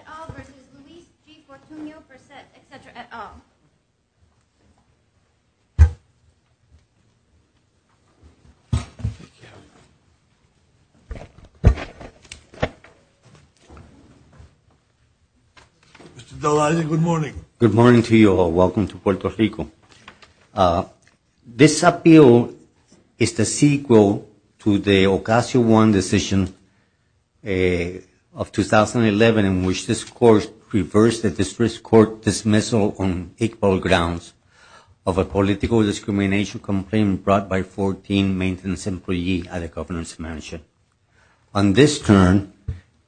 et al. versus Luis V. Fortuno-Burset, et cetera, et al. Mr. Del Allegre, good morning. Good morning to you all. Welcome to Puerto Rico. This appeal is the sequel to the Ocasio-Hernandez decision of 2011 in which this Court reversed the District Court dismissal on equal grounds of a political discrimination complaint brought by 14 maintenance employees at a governance mansion. On this turn,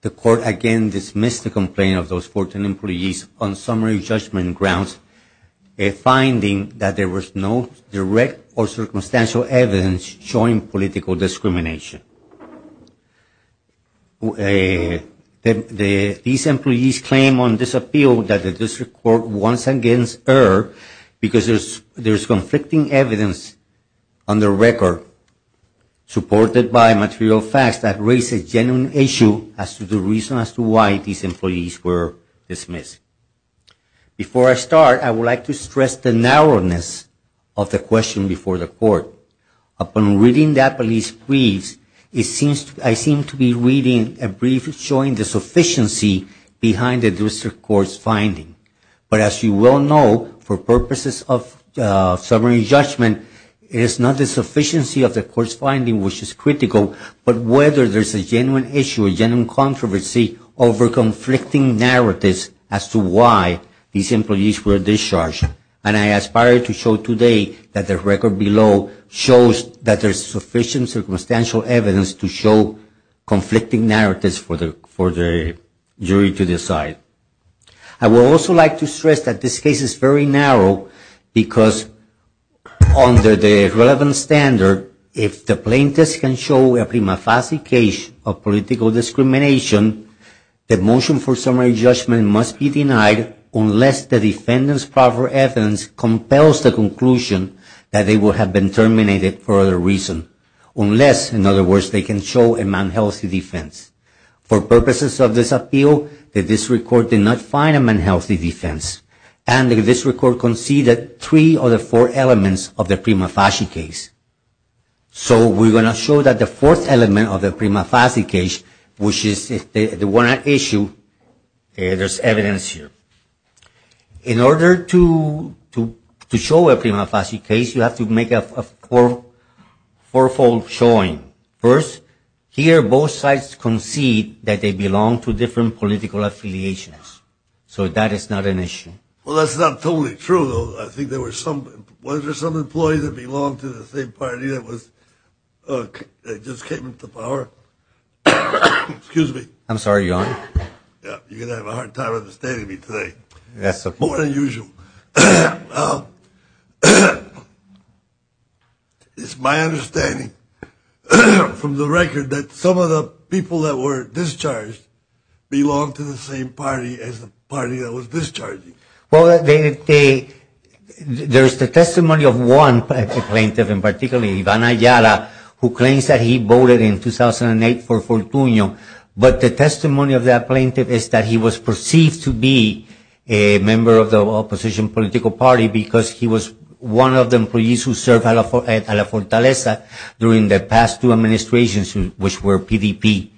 the Court again dismissed the complaint of those 14 employees on summary judgment grounds, finding that there was no direct or circumstantial evidence showing political discrimination. These employees claim on this appeal that the District Court once again erred because there is conflicting evidence on the record supported by material facts that raise a genuine issue as to the reason as to why these employees were dismissed. Before I start, I would like to stress the narrowness of the question before the Court. Upon reading that police brief, I seem to be reading a brief showing the sufficiency behind the District Court's finding. But as you well know, for purposes of summary judgment, it is not the sufficiency of the Court's finding which is critical, but whether there is a genuine issue, a genuine controversy over conflicting narratives as to why these employees were discharged. And I aspire to show today that the record below shows that there is sufficient circumstantial evidence to show conflicting narratives for the jury to decide. I would also like to stress that this case is very narrow because under the relevant standard, if the plaintiff can show a prima facie case of political discrimination, the motion for summary judgment must be denied unless the defendant's proper evidence compels the conclusion that they would have been terminated for other reasons. Unless, in other words, they can show a manhealthy defense. For purposes of this appeal, the District Court did not find a manhealthy defense, and the District Court conceded three of the four elements of the prima facie case. So we are going to show that the fourth element of the prima facie case, which is the one at issue, there is evidence here. In order to show a prima facie case, you have to make a fourfold showing. First, here both sides concede that they belong to different political affiliations. So that is not an issue. Well, that's not totally true, though. I think there were some employees that belonged to the same party that just came into power. Excuse me. I'm sorry, Your Honor. You're going to have a hard time understanding me today. More than usual. It's my understanding from the record that some of the people that were discharged belonged to the same party as the party that was discharging. There is the testimony of one plaintiff in particular, Ivan Ayala, who claims that he voted in 2008 for Fortunio. But the testimony of that plaintiff is that he was perceived to be a member of the opposition political party because he was one of the employees who served at La Fortaleza during the past two administrations, which were PDP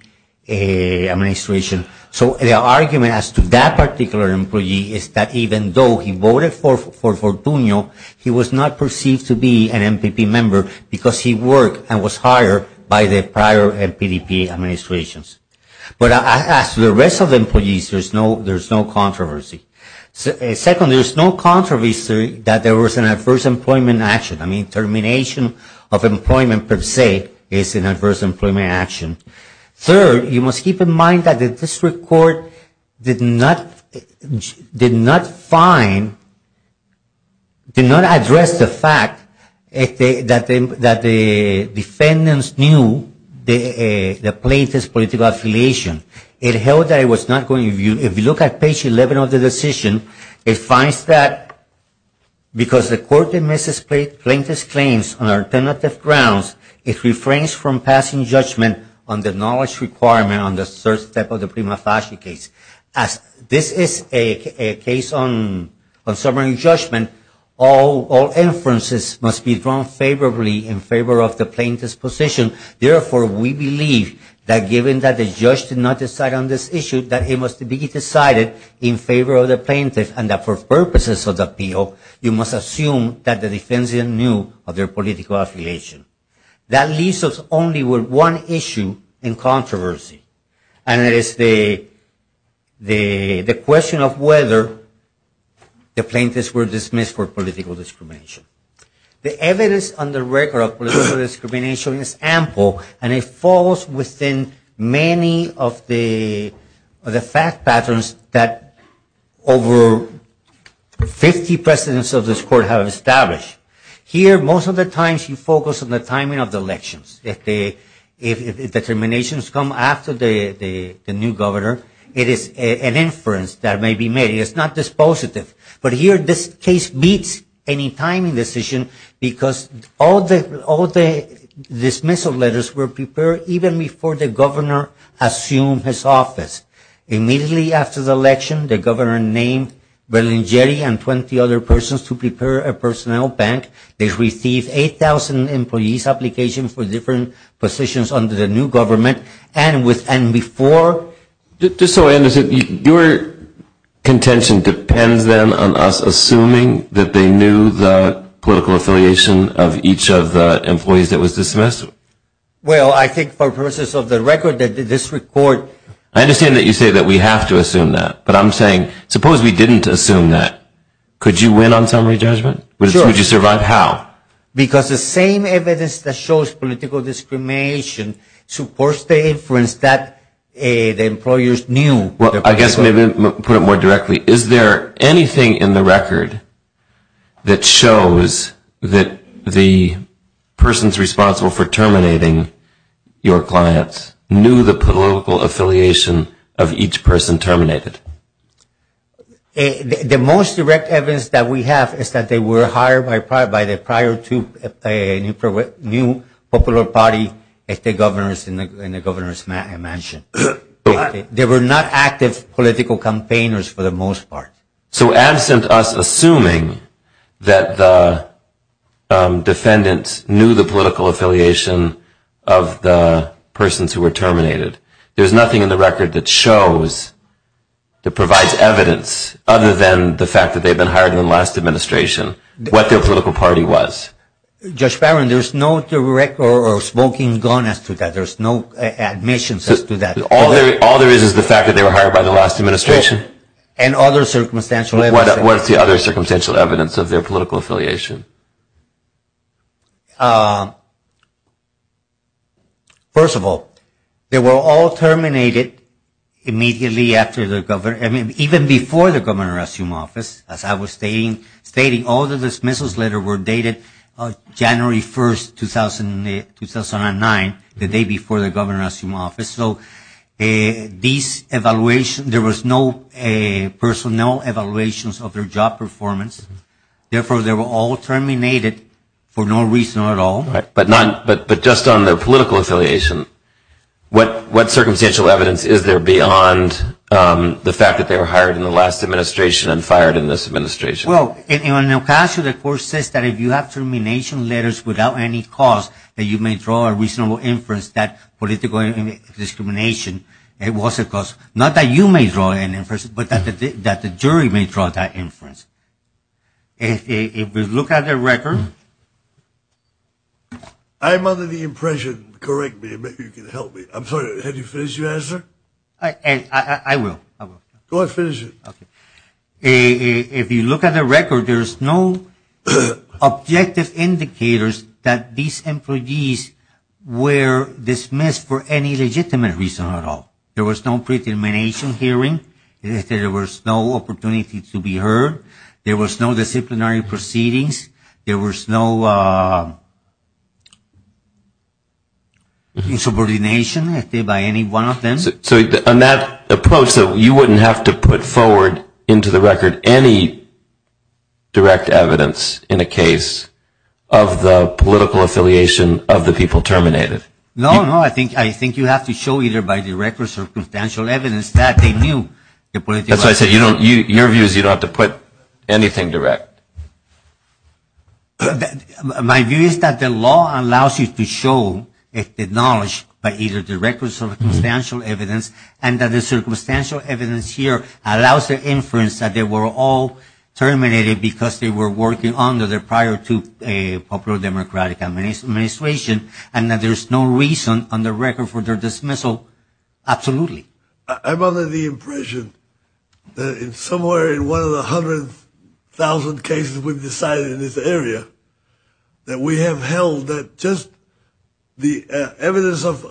administrations. So the argument as to that particular employee is that even though he voted for Fortunio, he was not perceived to be an MPP member because he worked and was hired by the prior PDP administrations. But as to the rest of the employees, there is no controversy. Second, there is no controversy that there was an adverse employment action. I mean, termination of employment per se is an adverse employment action. Third, you must keep in mind that the district court did not find, did not address the fact that the defendants knew the plaintiff's political affiliation. It held that it was not going to view, if you look at page 11 of the decision, it finds that because the court dismisses plaintiff's claims on alternative grounds, it refrains from passing judgment on the knowledge requirement on the third step of the Prima Facie case. As this is a case on sovereign judgment, all inferences must be drawn favorably in favor of the plaintiff's position. Therefore, we believe that given that the judge did not decide on this issue, that it must be decided in favor of the plaintiff and that for purposes of the appeal, you must assume that the defendants knew of their political affiliation. That leaves us only with one issue in controversy, and that is the question of whether the plaintiffs were dismissed for political discrimination. The evidence on the record of political discrimination is ample and it falls within many of the fact patterns that over 50 presidents of this court have established. Here, most of the times you focus on the timing of the elections. If the determinations come after the new governor, it is an inference that may be made. It is not dispositive. But here, this case beats any timing decision because all the dismissal letters were prepared even before the governor assumed his office. Immediately after the election, the governor named Berlingeri and 20 other persons to prepare a personnel bank. They received 8,000 employees applications for different positions under the new government and before Just so I understand, your contention depends then on us assuming that they knew the political affiliation of each of the employees that was dismissed? Well, I think for purposes of the record that this report I understand that you say that we have to assume that. But I'm saying, suppose we didn't assume that. Could you win on summary judgment? Would you survive? How? Because the same evidence that shows political discrimination supports the inference that the employers knew Well, I guess maybe put it more directly. Is there anything in the record that shows that the persons responsible for terminating your clients knew the political affiliation of each person terminated? The most direct evidence that we have is that they were hired by the prior two popular party governors in the governor's mansion. They were not active political campaigners for the most part. So absent us assuming that the defendants knew the political affiliation of the persons who were terminated, there's nothing in the record that shows, that provides evidence other than the fact that they've been hired in the last administration, what their political party was. Judge Farron, there's no direct or spoken gone as to that. There's no admissions as to that. All there is is the fact that they were hired by the last administration. And other circumstantial evidence. What's the other circumstantial evidence of their political affiliation? First of all, they were all terminated immediately after the governor, even before the governor assumed office, as I was stating, all the dismissals letters were dated January 1st, 2009, the day before the governor assumed office. So these evaluations, there was no personnel evaluations of their job performance. Therefore, they were all terminated for no reason at all. But just on their political affiliation, what circumstantial evidence is there beyond the fact that they were hired in the last administration and fired in this administration? Well, in El Paso, the court says that if you have termination letters without any cause, that you may draw a reasonable inference that political discrimination, it was a cause. Not that you may draw an inference, but that the jury may draw that inference. If we look at their record... I'm under the impression, correct me, maybe you can help me. I'm sorry, have you finished your answer? I will. Go ahead, finish it. If you look at their record, there is no objective indicators that these employees were dismissed for any legitimate reason at all. There was no pre-termination hearing. There was no opportunity to be heard. There was no disciplinary proceedings. There was no insubordination by any one of them. So on that approach, you wouldn't have to put forward into the record any direct evidence in a case of the political affiliation of the people terminated? No, no. I think you have to show either by direct or circumstantial evidence that they knew the political affiliation. That's why I said your view is you don't have to put anything direct. My view is that the law allows you to show the knowledge by either direct or circumstantial evidence, and that the circumstantial evidence here allows the inference that they were all terminated because they were working under the prior to a popular democratic administration and that there's no reason on the record for their dismissal absolutely. I'm under the impression that somewhere in one of the hundred thousand cases we've decided in this area that we have held that just the evidence of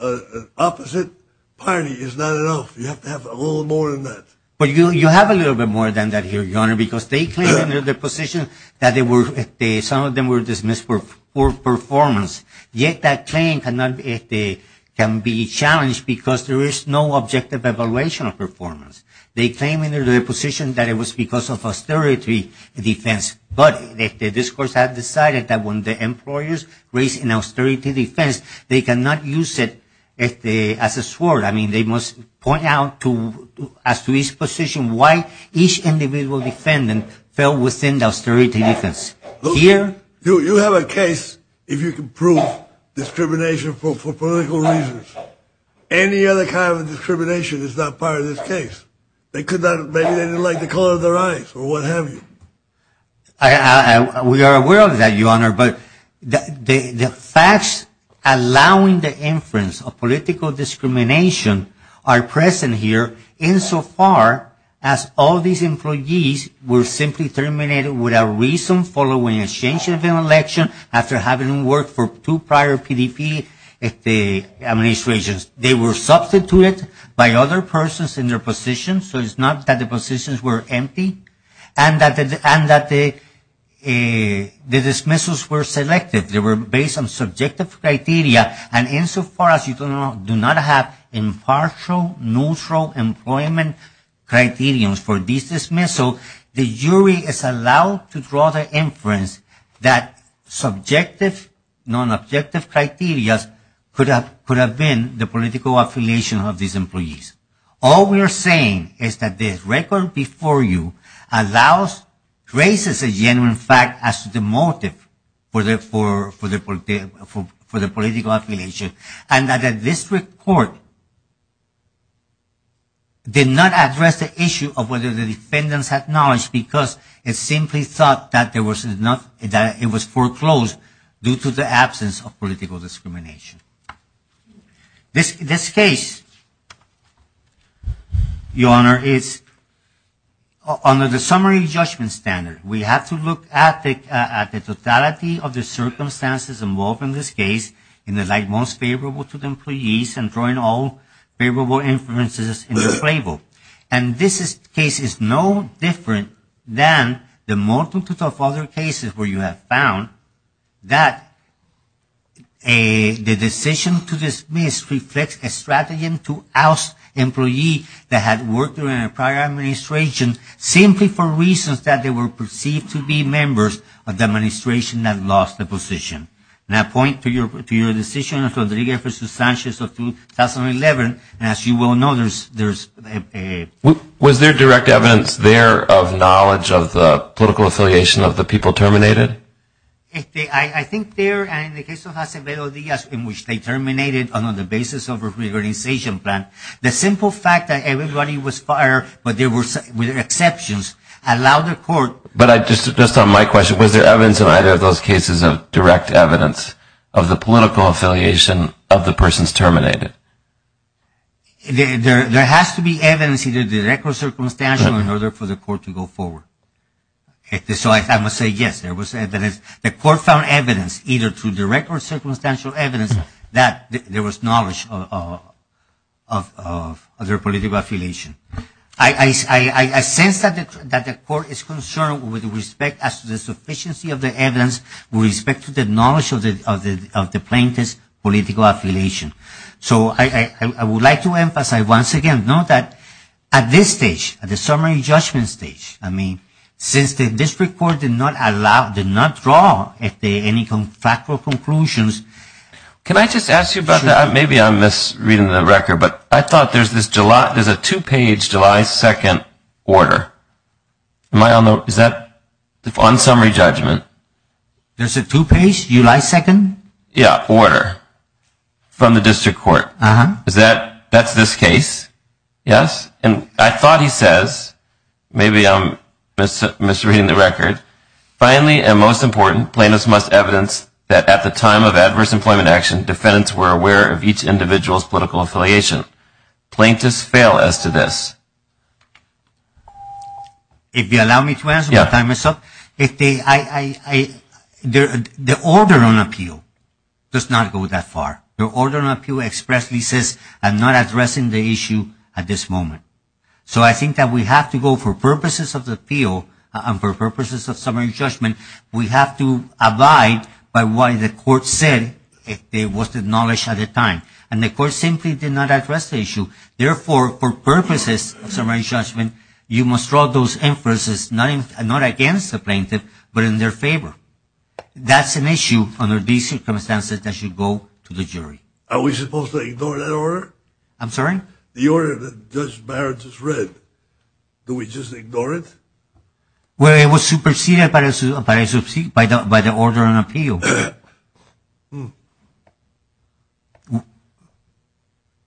an opposite party is not enough. You have to have a little more than that. But you have a little bit more than that here, Your Honor, because they claim in their deposition that they were some of them were dismissed for poor performance, yet that claim can be challenged because there is no objective evaluation of performance. They claim in their deposition that it was because of austerity defense, but the discourse had decided that when the employers raised an austerity defense, they cannot use it as a sword. I mean, they must point out as to this position why each individual defendant fell within the austerity defense. Here... You have a case if you can prove discrimination for political reasons. Any other kind of discrimination is not part of this case. Maybe they didn't like the color of their eyes or what have you. We are aware of that, Your Honor, but the facts allowing the inference of political discrimination are present here insofar as all these employees were simply terminated without reason following a change of election after having worked for two prior PDP administrations. They were substituted by other persons in their positions, so it's not that the positions were and that the dismissals were selective. They were based on subjective criteria, and insofar as you do not have impartial, neutral employment criterions for these dismissals, the jury is allowed to draw the inference that subjective, non-objective criterias could have been the political affiliation of these employees. All we are saying is that the record before you traces a genuine fact as to the motive for the political affiliation, and that the district court did not address the issue of whether the defendants had knowledge because it simply thought that it was foreclosed due to the absence of political discrimination. This case, Your Honor, is under the summary judgment standard. We have to look at the totality of the circumstances involved in this case in the light most favorable to the employees and drawing all favorable inferences in this label, and this case is no different than the multitude of other cases where you have found that the decision to dismiss reflects a strategy to oust employees that had worked during a prior administration simply for reasons that they were perceived to be members of the administration that lost the position. And I point to your decision of Rodriguez v. Sanchez of 2011, and as you well know, there's a... Was there direct evidence there of knowledge of the political affiliation of the people terminated? I think there, and in the case of Acevedo Diaz in which they terminated on the basis of a reorganization plan, the simple fact that everybody was fired but there were exceptions allowed the court... But just on my question, was there evidence in either of those cases of direct evidence of the political affiliation of the persons terminated? There has to be evidence either direct or circumstantial in order for the court to go forward. So I must say yes, there was evidence. The court found evidence either through direct or circumstantial evidence that there was knowledge of their political affiliation. I sense that the court is concerned with respect as to the sufficiency of the evidence with respect to the knowledge of the plaintiff's political affiliation. So I would like to emphasize once again, note that at this stage, at the summary judgment stage, since the district court did not withdraw, if there are any factual conclusions... Can I just ask you about that? Maybe I'm misreading the record, but I thought there's a two-page July 2nd order. Is that on summary judgment? There's a two-page July 2nd? Yeah, order. From the district court. That's this case? Yes? And I thought he says, maybe I'm misreading the record. Finally, and most important, plaintiffs must evidence that at the time of adverse employment action, defendants were aware of each individual's political affiliation. Plaintiffs fail as to this. If you allow me to answer, my time is up. The order on appeal does not go that far. The order on appeal expressly says, I'm not addressing the issue at this moment. So I think that we have to go for purposes of the appeal, and for purposes of summary judgment, we have to abide by why the court said it was acknowledged at the time. And the court simply did not address the issue. Therefore, for purposes of summary judgment, you must draw those inferences not against the plaintiff, but in their favor. That's an issue under these circumstances that should go to the jury. Are we supposed to ignore that order? I'm sorry? The order that Judge Barrett just read, do we just ignore it? Well, it was superseded by the order on appeal.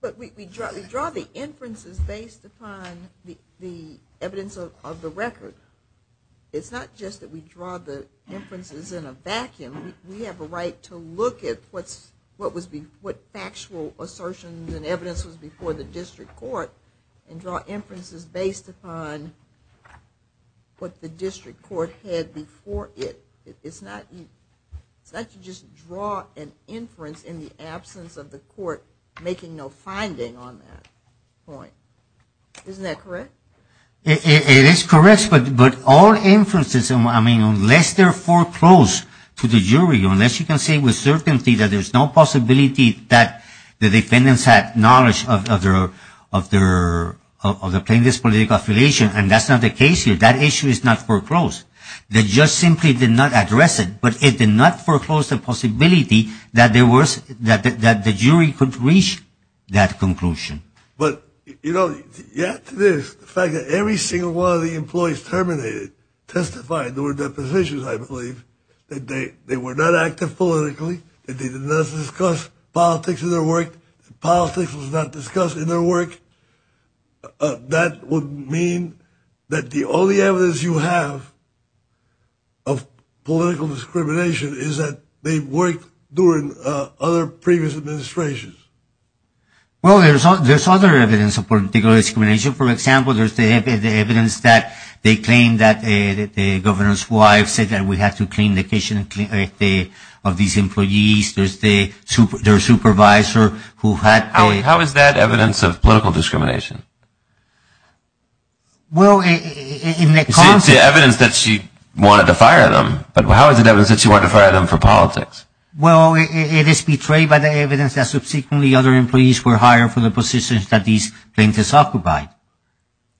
But we draw the inferences based upon the evidence of the record. It's not just that we draw the inferences in a vacuum. We have a right to look at what factual assertions and evidence was before the district court and draw inferences based upon what the district court had before it. It's not to just draw an inference in the absence of the court making no finding on that point. Isn't that correct? It is correct, but all inferences, I mean, unless they're foreclosed to the jury, unless you can say with certainty that there's no possibility that the defendants had knowledge of the plaintiff's political affiliation, and that's not the case here. That issue is not foreclosed. The judge simply did not address it, but it did not foreclose the possibility that the jury could reach that conclusion. But, you know, the fact that every single one of the employees terminated testified, there were depositions, I believe, that they were not active politically, that they did not discuss politics in their work, that politics was not discussed in their work, that would mean that the only evidence you have of political discrimination is that they worked during other previous administrations. Well, there's other evidence of political discrimination. For example, there's the evidence that they claim that the governor's wife said that we have to clean the kitchen of these employees. There's their supervisor who had the... How is that evidence of political discrimination? Well, in the context... It's the evidence that she wanted to fire them, but how is it evidence that she wanted to fire them for politics? Well, it is betrayed by the evidence that subsequently other employees were hired for the positions that these plaintiffs occupied.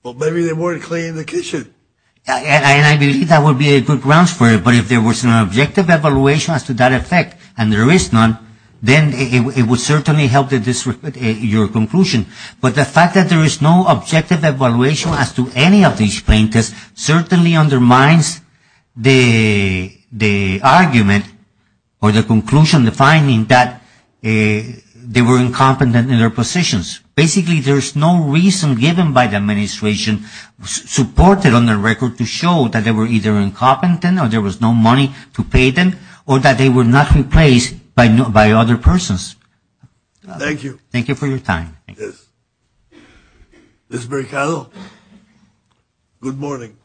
Well, maybe they weren't cleaning the kitchen. And I believe that would be a good grounds for it, but if there was an objective evaluation as to that effect, and there is none, then it would certainly help your conclusion. But the fact that there is no objective evaluation as to any of these plaintiffs certainly undermines the argument or the conclusion, the finding that they were incompetent in their positions. Basically, there's no reason given by the administration supported on the record to show that they were either incompetent, or there was no money to pay them, or that they were not replaced by other persons. Thank you. Thank you for your time. Ms. Mercado, good morning.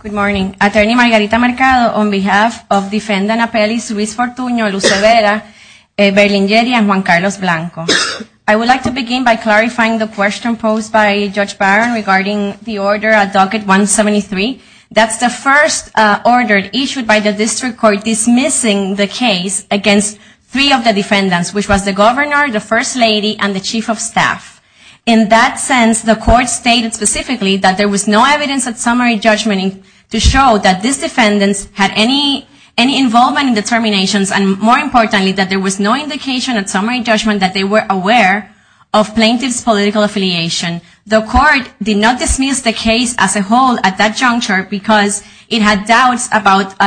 Good morning. Attorney Margarita Mercado, on behalf of Defendant Appellee Luis Fortuno Lucevera Berlingeri and Juan Carlos Blanco. I would like to begin by clarifying the question posed by Judge Barron regarding the order at Docket 173. That's the first order issued by the district court dismissing the case against three of the defendants, which was the Governor, the First Lady, and the Chief of Staff. In that sense, the court stated specifically that there was no evidence at summary judgment to show that these defendants had any involvement in the terminations, and more importantly, that there was no indication at summary judgment that they were aware of plaintiff's political affiliation. The court did not dismiss the case as a whole at that juncture because it had doubts about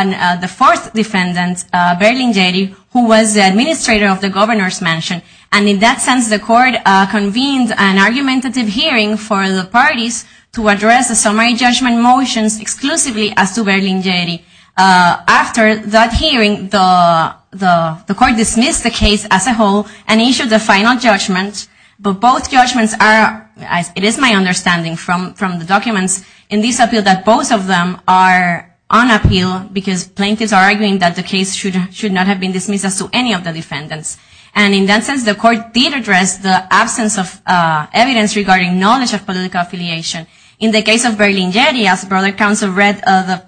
the fourth defendant, Berlingeri, who was the administrator of the Governor's Mansion. And in that sense, the court convened an argumentative hearing for the parties to address the summary judgment motions exclusively as to Berlingeri. After that hearing, the court dismissed the case as a whole and issued the final judgment. But both judgments are, it is my understanding from the documents, in this appeal that both of them are on appeal because plaintiffs are arguing that the case should not have been dismissed as to any of the defendants. And in that sense, the court did address the absence of evidence regarding knowledge of political affiliation. In the case of Berlingeri, as the broader council read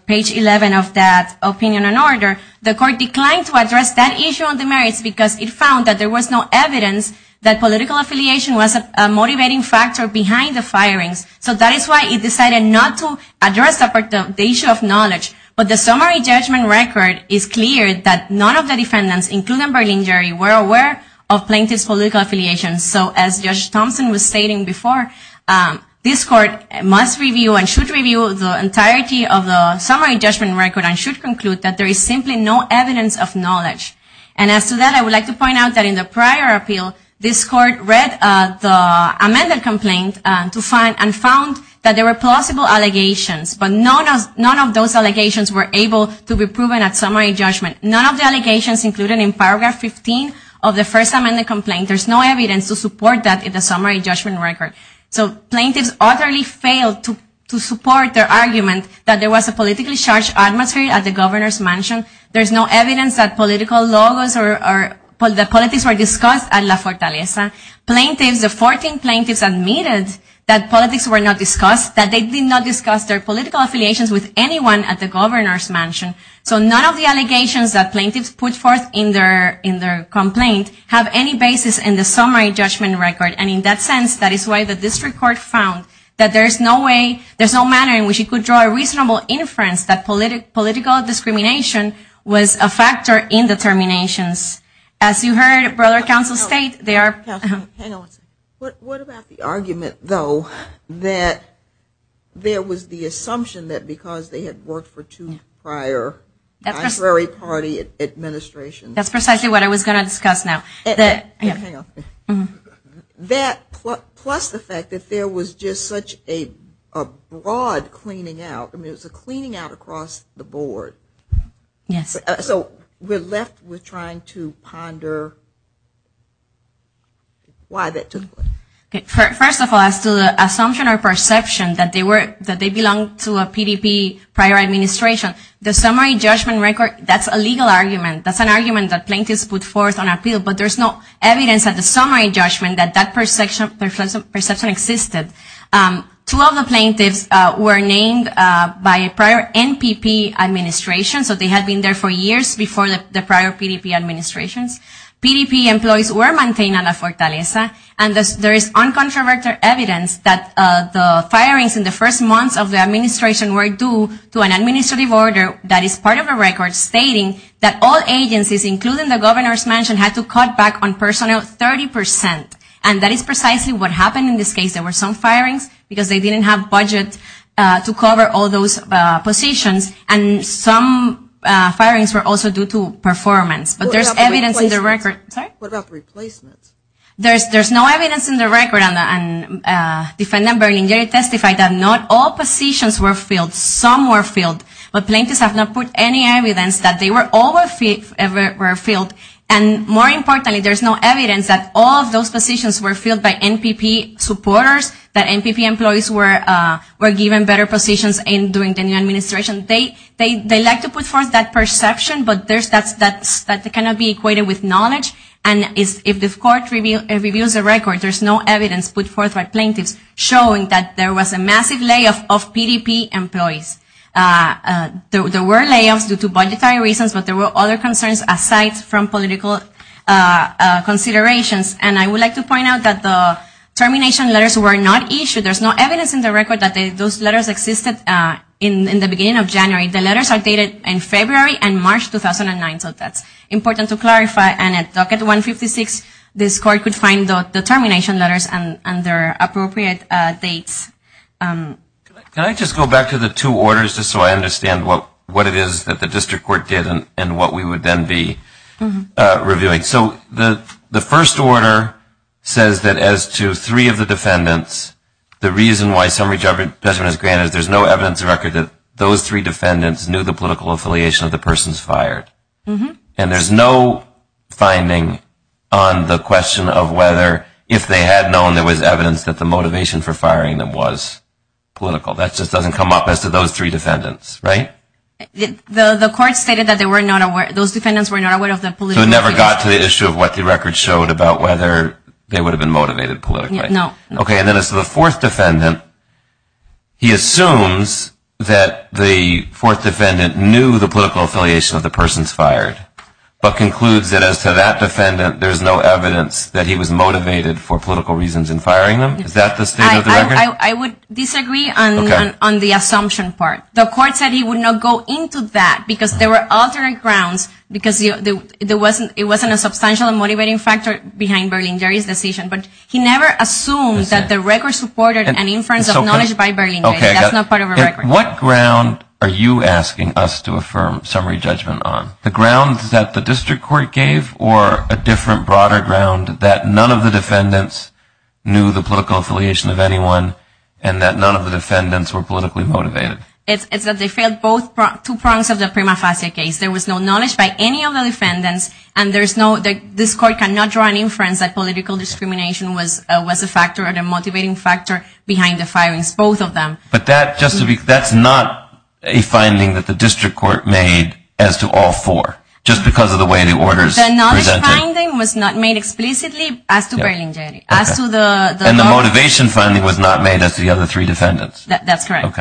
page 11 of that opinion and order, the court declined to address that issue of the merits because it found that there was no evidence that political affiliation was a motivating factor behind the firings. So that is why it decided not to address the issue of knowledge. But the summary judgment record is clear that none of the defendants, including Berlingeri, were aware of plaintiff's political affiliation. So as Judge Thompson was stating before, this court must review and should review the entirety of the summary judgment record and should conclude that there is simply no evidence of knowledge. And as to that, I would like to point out that in the prior appeal, this court read the amended complaint and found that there were plausible allegations, but none of those allegations were able to be proven at summary judgment. None of the allegations included in paragraph 15 of the first amended complaint, there is no evidence to support that in the summary judgment record. So plaintiffs utterly failed to support their argument that there was a politically charged adversary at the governor's mansion. There is no evidence that political logos or that politics were discussed at La Fortaleza. Plaintiffs, the 14 plaintiffs admitted that politics were not discussed, that they did not discuss their political affiliations with anyone at the governor's mansion. So none of the allegations that plaintiffs put forth in their complaint have any basis in the summary judgment record. And in that sense, that is why the district court found that there is no way, there is no manner in which it could draw a conclusion that political discrimination was a factor in the terminations. As you heard Brother Counsel state, there What about the argument, though, that there was the assumption that because they had worked for two prior advisory party administrations. That's precisely what I was going to discuss now. That, plus the fact that there was just such a broad cleaning out, I mean it was a cleaning out across the board. We're left with trying to ponder why that took place. First of all, as to the assumption or perception that they belonged to a PDP prior administration, the summary judgment record, that's a legal argument. That's an argument that plaintiffs put forth on appeal, but there's no evidence at the summary judgment that that perception existed. Two of the prior NPP administrations, so they had been there for years before the prior PDP administrations. PDP employees were maintained at a fortaleza, and there is uncontroverted evidence that the firings in the first months of the administration were due to an administrative order that is part of a record stating that all agencies, including the governor's mansion, had to cut back on personnel 30 percent. And that is precisely what happened in this case. There were some firings because they didn't have budget to cover all those positions, and some firings were also due to performance. But there's evidence in the record What about the replacements? There's no evidence in the record, and Defendant Berlingeri testified that not all positions were filled. Some were filled, but plaintiffs have not put any evidence that they were all ever filled. And more importantly, there's no evidence that all of those positions were filled by NPP supporters, that NPP employees were given better positions during the new administration. They like to put forth that perception, but that cannot be equated with knowledge. And if the court reviews the record, there's no evidence put forth by plaintiffs showing that there was a massive layoff of PDP employees. There were layoffs due to budgetary reasons, but there were other concerns aside from political considerations. And I would like to point out that the termination letters were not issued. There's no evidence in the record that those letters existed in the beginning of January. The letters are dated in February and March 2009, so that's important to clarify. And at Docket 156, this court could find the termination letters and their appropriate dates. Can I just go back to the two orders just so I understand what it is that the District Court did and what we would then be reviewing? So the first order says that as to three of the defendants, the reason why summary judgment is granted is there's no evidence in the record that those three defendants knew the political affiliation of the persons fired. And there's no finding on the question of whether if they had known there was evidence that the motivation for firing them was political. That just doesn't come up as to those three defendants, right? The court stated that those defendants were not aware of the political affiliation. So it never got to the issue of what the record showed about whether they would have been motivated politically. No. Okay, and then as to the fourth defendant, he assumes that the fourth defendant knew the political affiliation of the persons fired, but concludes that as to that defendant, there's no evidence that he was motivated for political reasons in firing them. Is that the state of the record? I would disagree on the assumption part. The court said he would not go into that because there were alternate grounds because it wasn't a substantial motivating factor behind Berlingeri's decision. But he never assumed that the record supported an inference of knowledge by Berlingeri. That's not part of the record. What ground are you asking us to affirm summary judgment on? The ground that the district court gave or a different, broader ground that none of the defendants knew the political affiliation of anyone and that none of the defendants were politically motivated? It's that they there was no knowledge by any of the defendants and there's no this court cannot draw an inference that political discrimination was a factor or a motivating factor behind the firings, both of them. But that's not a finding that the district court made as to all four just because of the way the orders presented. The knowledge finding was not made explicitly as to Berlingeri. And the motivation finding was not made as to the other three defendants. That's correct.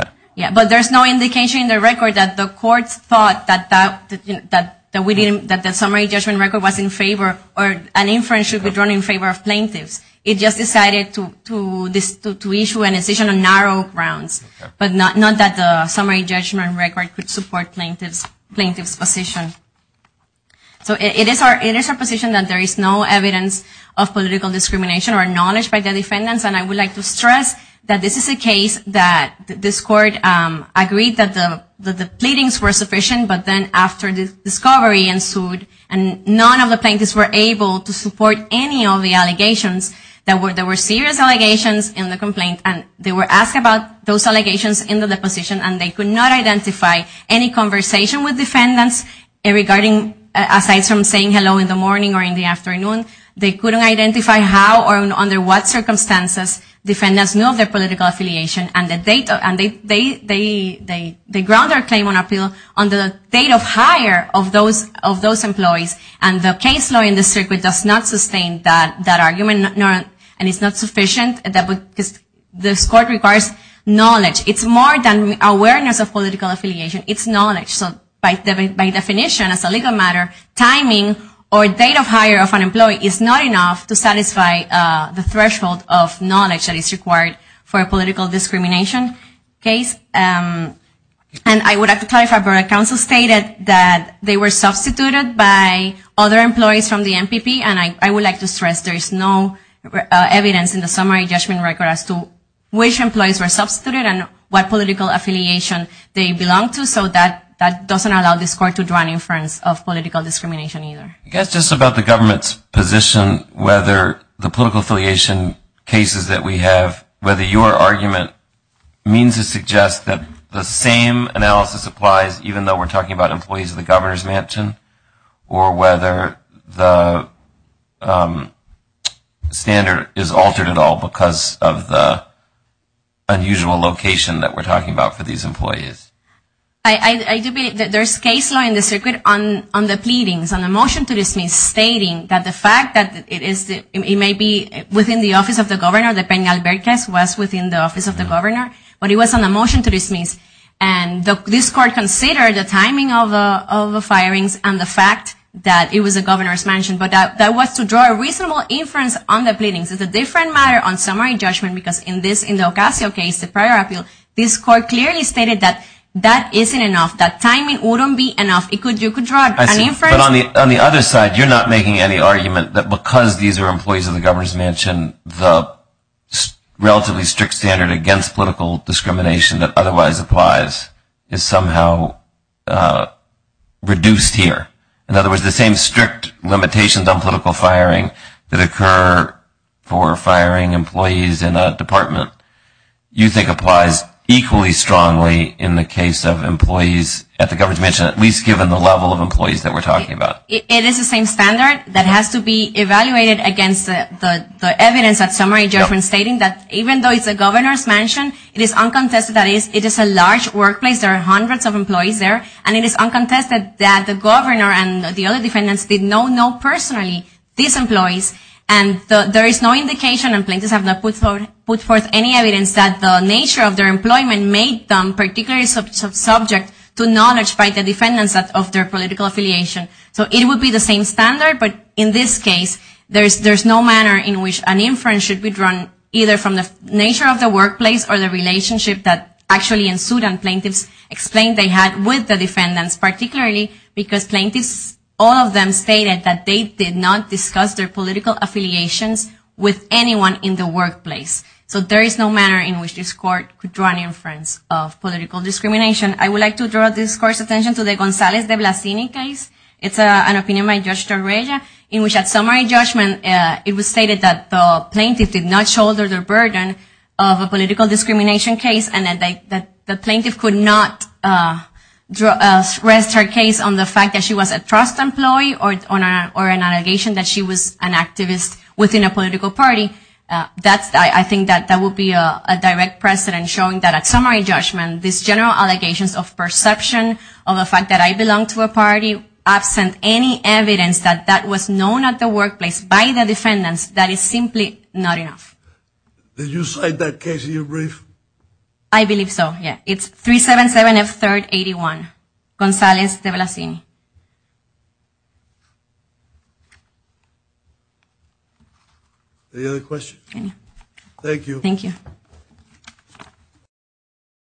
But there's no indication in the record that the courts thought that the summary judgment record was in favor or an inference should be drawn in favor of plaintiffs. It just decided to issue a decision on narrow grounds. But not that the summary judgment record could support plaintiffs' position. So it is our position that there is no evidence of political discrimination or knowledge by the defendants. And I would like to stress that this is a case that this court agreed that the pleadings were sufficient but then after the discovery ensued and none of the plaintiffs were able to support any of the allegations. There were serious allegations in the complaint and they were asked about those allegations in the deposition and they could not identify any conversation with defendants regarding, aside from saying hello in the morning or in the afternoon, they couldn't identify how or under what circumstances defendants knew their political affiliation and they ground their claim on appeal on the date of hire of those employees. And the case law in the circuit does not sustain that argument and it's not sufficient. This court requires knowledge. It's more than awareness of political affiliation. It's knowledge. So by definition, as a legal matter, timing or knowledge that is required for a political discrimination case. And I would like to clarify, but our counsel stated that they were substituted by other employees from the MPP and I would like to stress there is no evidence in the summary judgment record as to which employees were substituted and what political affiliation they belong to. So that doesn't allow this court to draw an inference of political discrimination either. I guess just about the government's position whether the political affiliation cases that we have, whether your argument means to suggest that the same analysis applies even though we're talking about employees of the governor's mansion or whether the standard is altered at all because of the unusual location that we're talking about for these employees. I do believe that there's case law in the circuit on the pleadings, on the motion to dismiss stating that the fact that it may be within the office of the governor, the Penal Vergas was within the office of the governor, but it was on the motion to dismiss. And this court considered the timing of the firings and the fact that it was a governor's mansion, but that was to draw a reasonable inference on the pleadings. It's a different matter on summary judgment because in the Ocasio case, the prior appeal, this court clearly stated that that isn't enough. That timing wouldn't be enough. You could draw an inference But on the other side, you're not making any argument that because these are employees of the governor's mansion, the relatively strict standard against political discrimination that otherwise applies is somehow reduced here. In other words, the same strict limitations on political firing that occur for firing employees in a department, you think applies equally strongly in the case of employees at the governor's mansion at least given the level of employees that we're talking about. It is the same standard that has to be evaluated against the evidence at summary judgment stating that even though it's a governor's mansion, it is uncontested that it is a large workplace. There are hundreds of employees there, and it is uncontested that the governor and the other defendants did not know personally these employees. And there is no indication and plaintiffs have not put forth any evidence that the nature of their employment made them particularly subject to knowledge by the defendants of their political affiliation. So it would be the same standard, but in this case, there's no manner in which an inference should be drawn either from the nature of the workplace or the relationship that actually ensued and plaintiffs explained they had with the defendants, particularly because plaintiffs, all of them stated that they did not discuss their political affiliations with anyone in the workplace. So there is no manner in which this court could draw an inference of political discrimination. I would like to draw this court's attention to the Gonzalez de Blasini case. It's an opinion by Judge Torreja in which at summary judgment it was stated that the plaintiff did not shoulder the burden of a political discrimination case and that the plaintiff could not rest her case on the fact that she was a trust employee or an allegation that she was an activist within a political party. I think that would be a direct precedent showing that at summary judgment, this general allegations of perception of the fact that I belong to a party absent any evidence that that was known at the workplace by the defendants that is simply not enough. Did you cite that case in your brief? I believe so, yeah. It's 377 F 3rd 81. Gonzalez de Blasini. Any other questions? Thank you.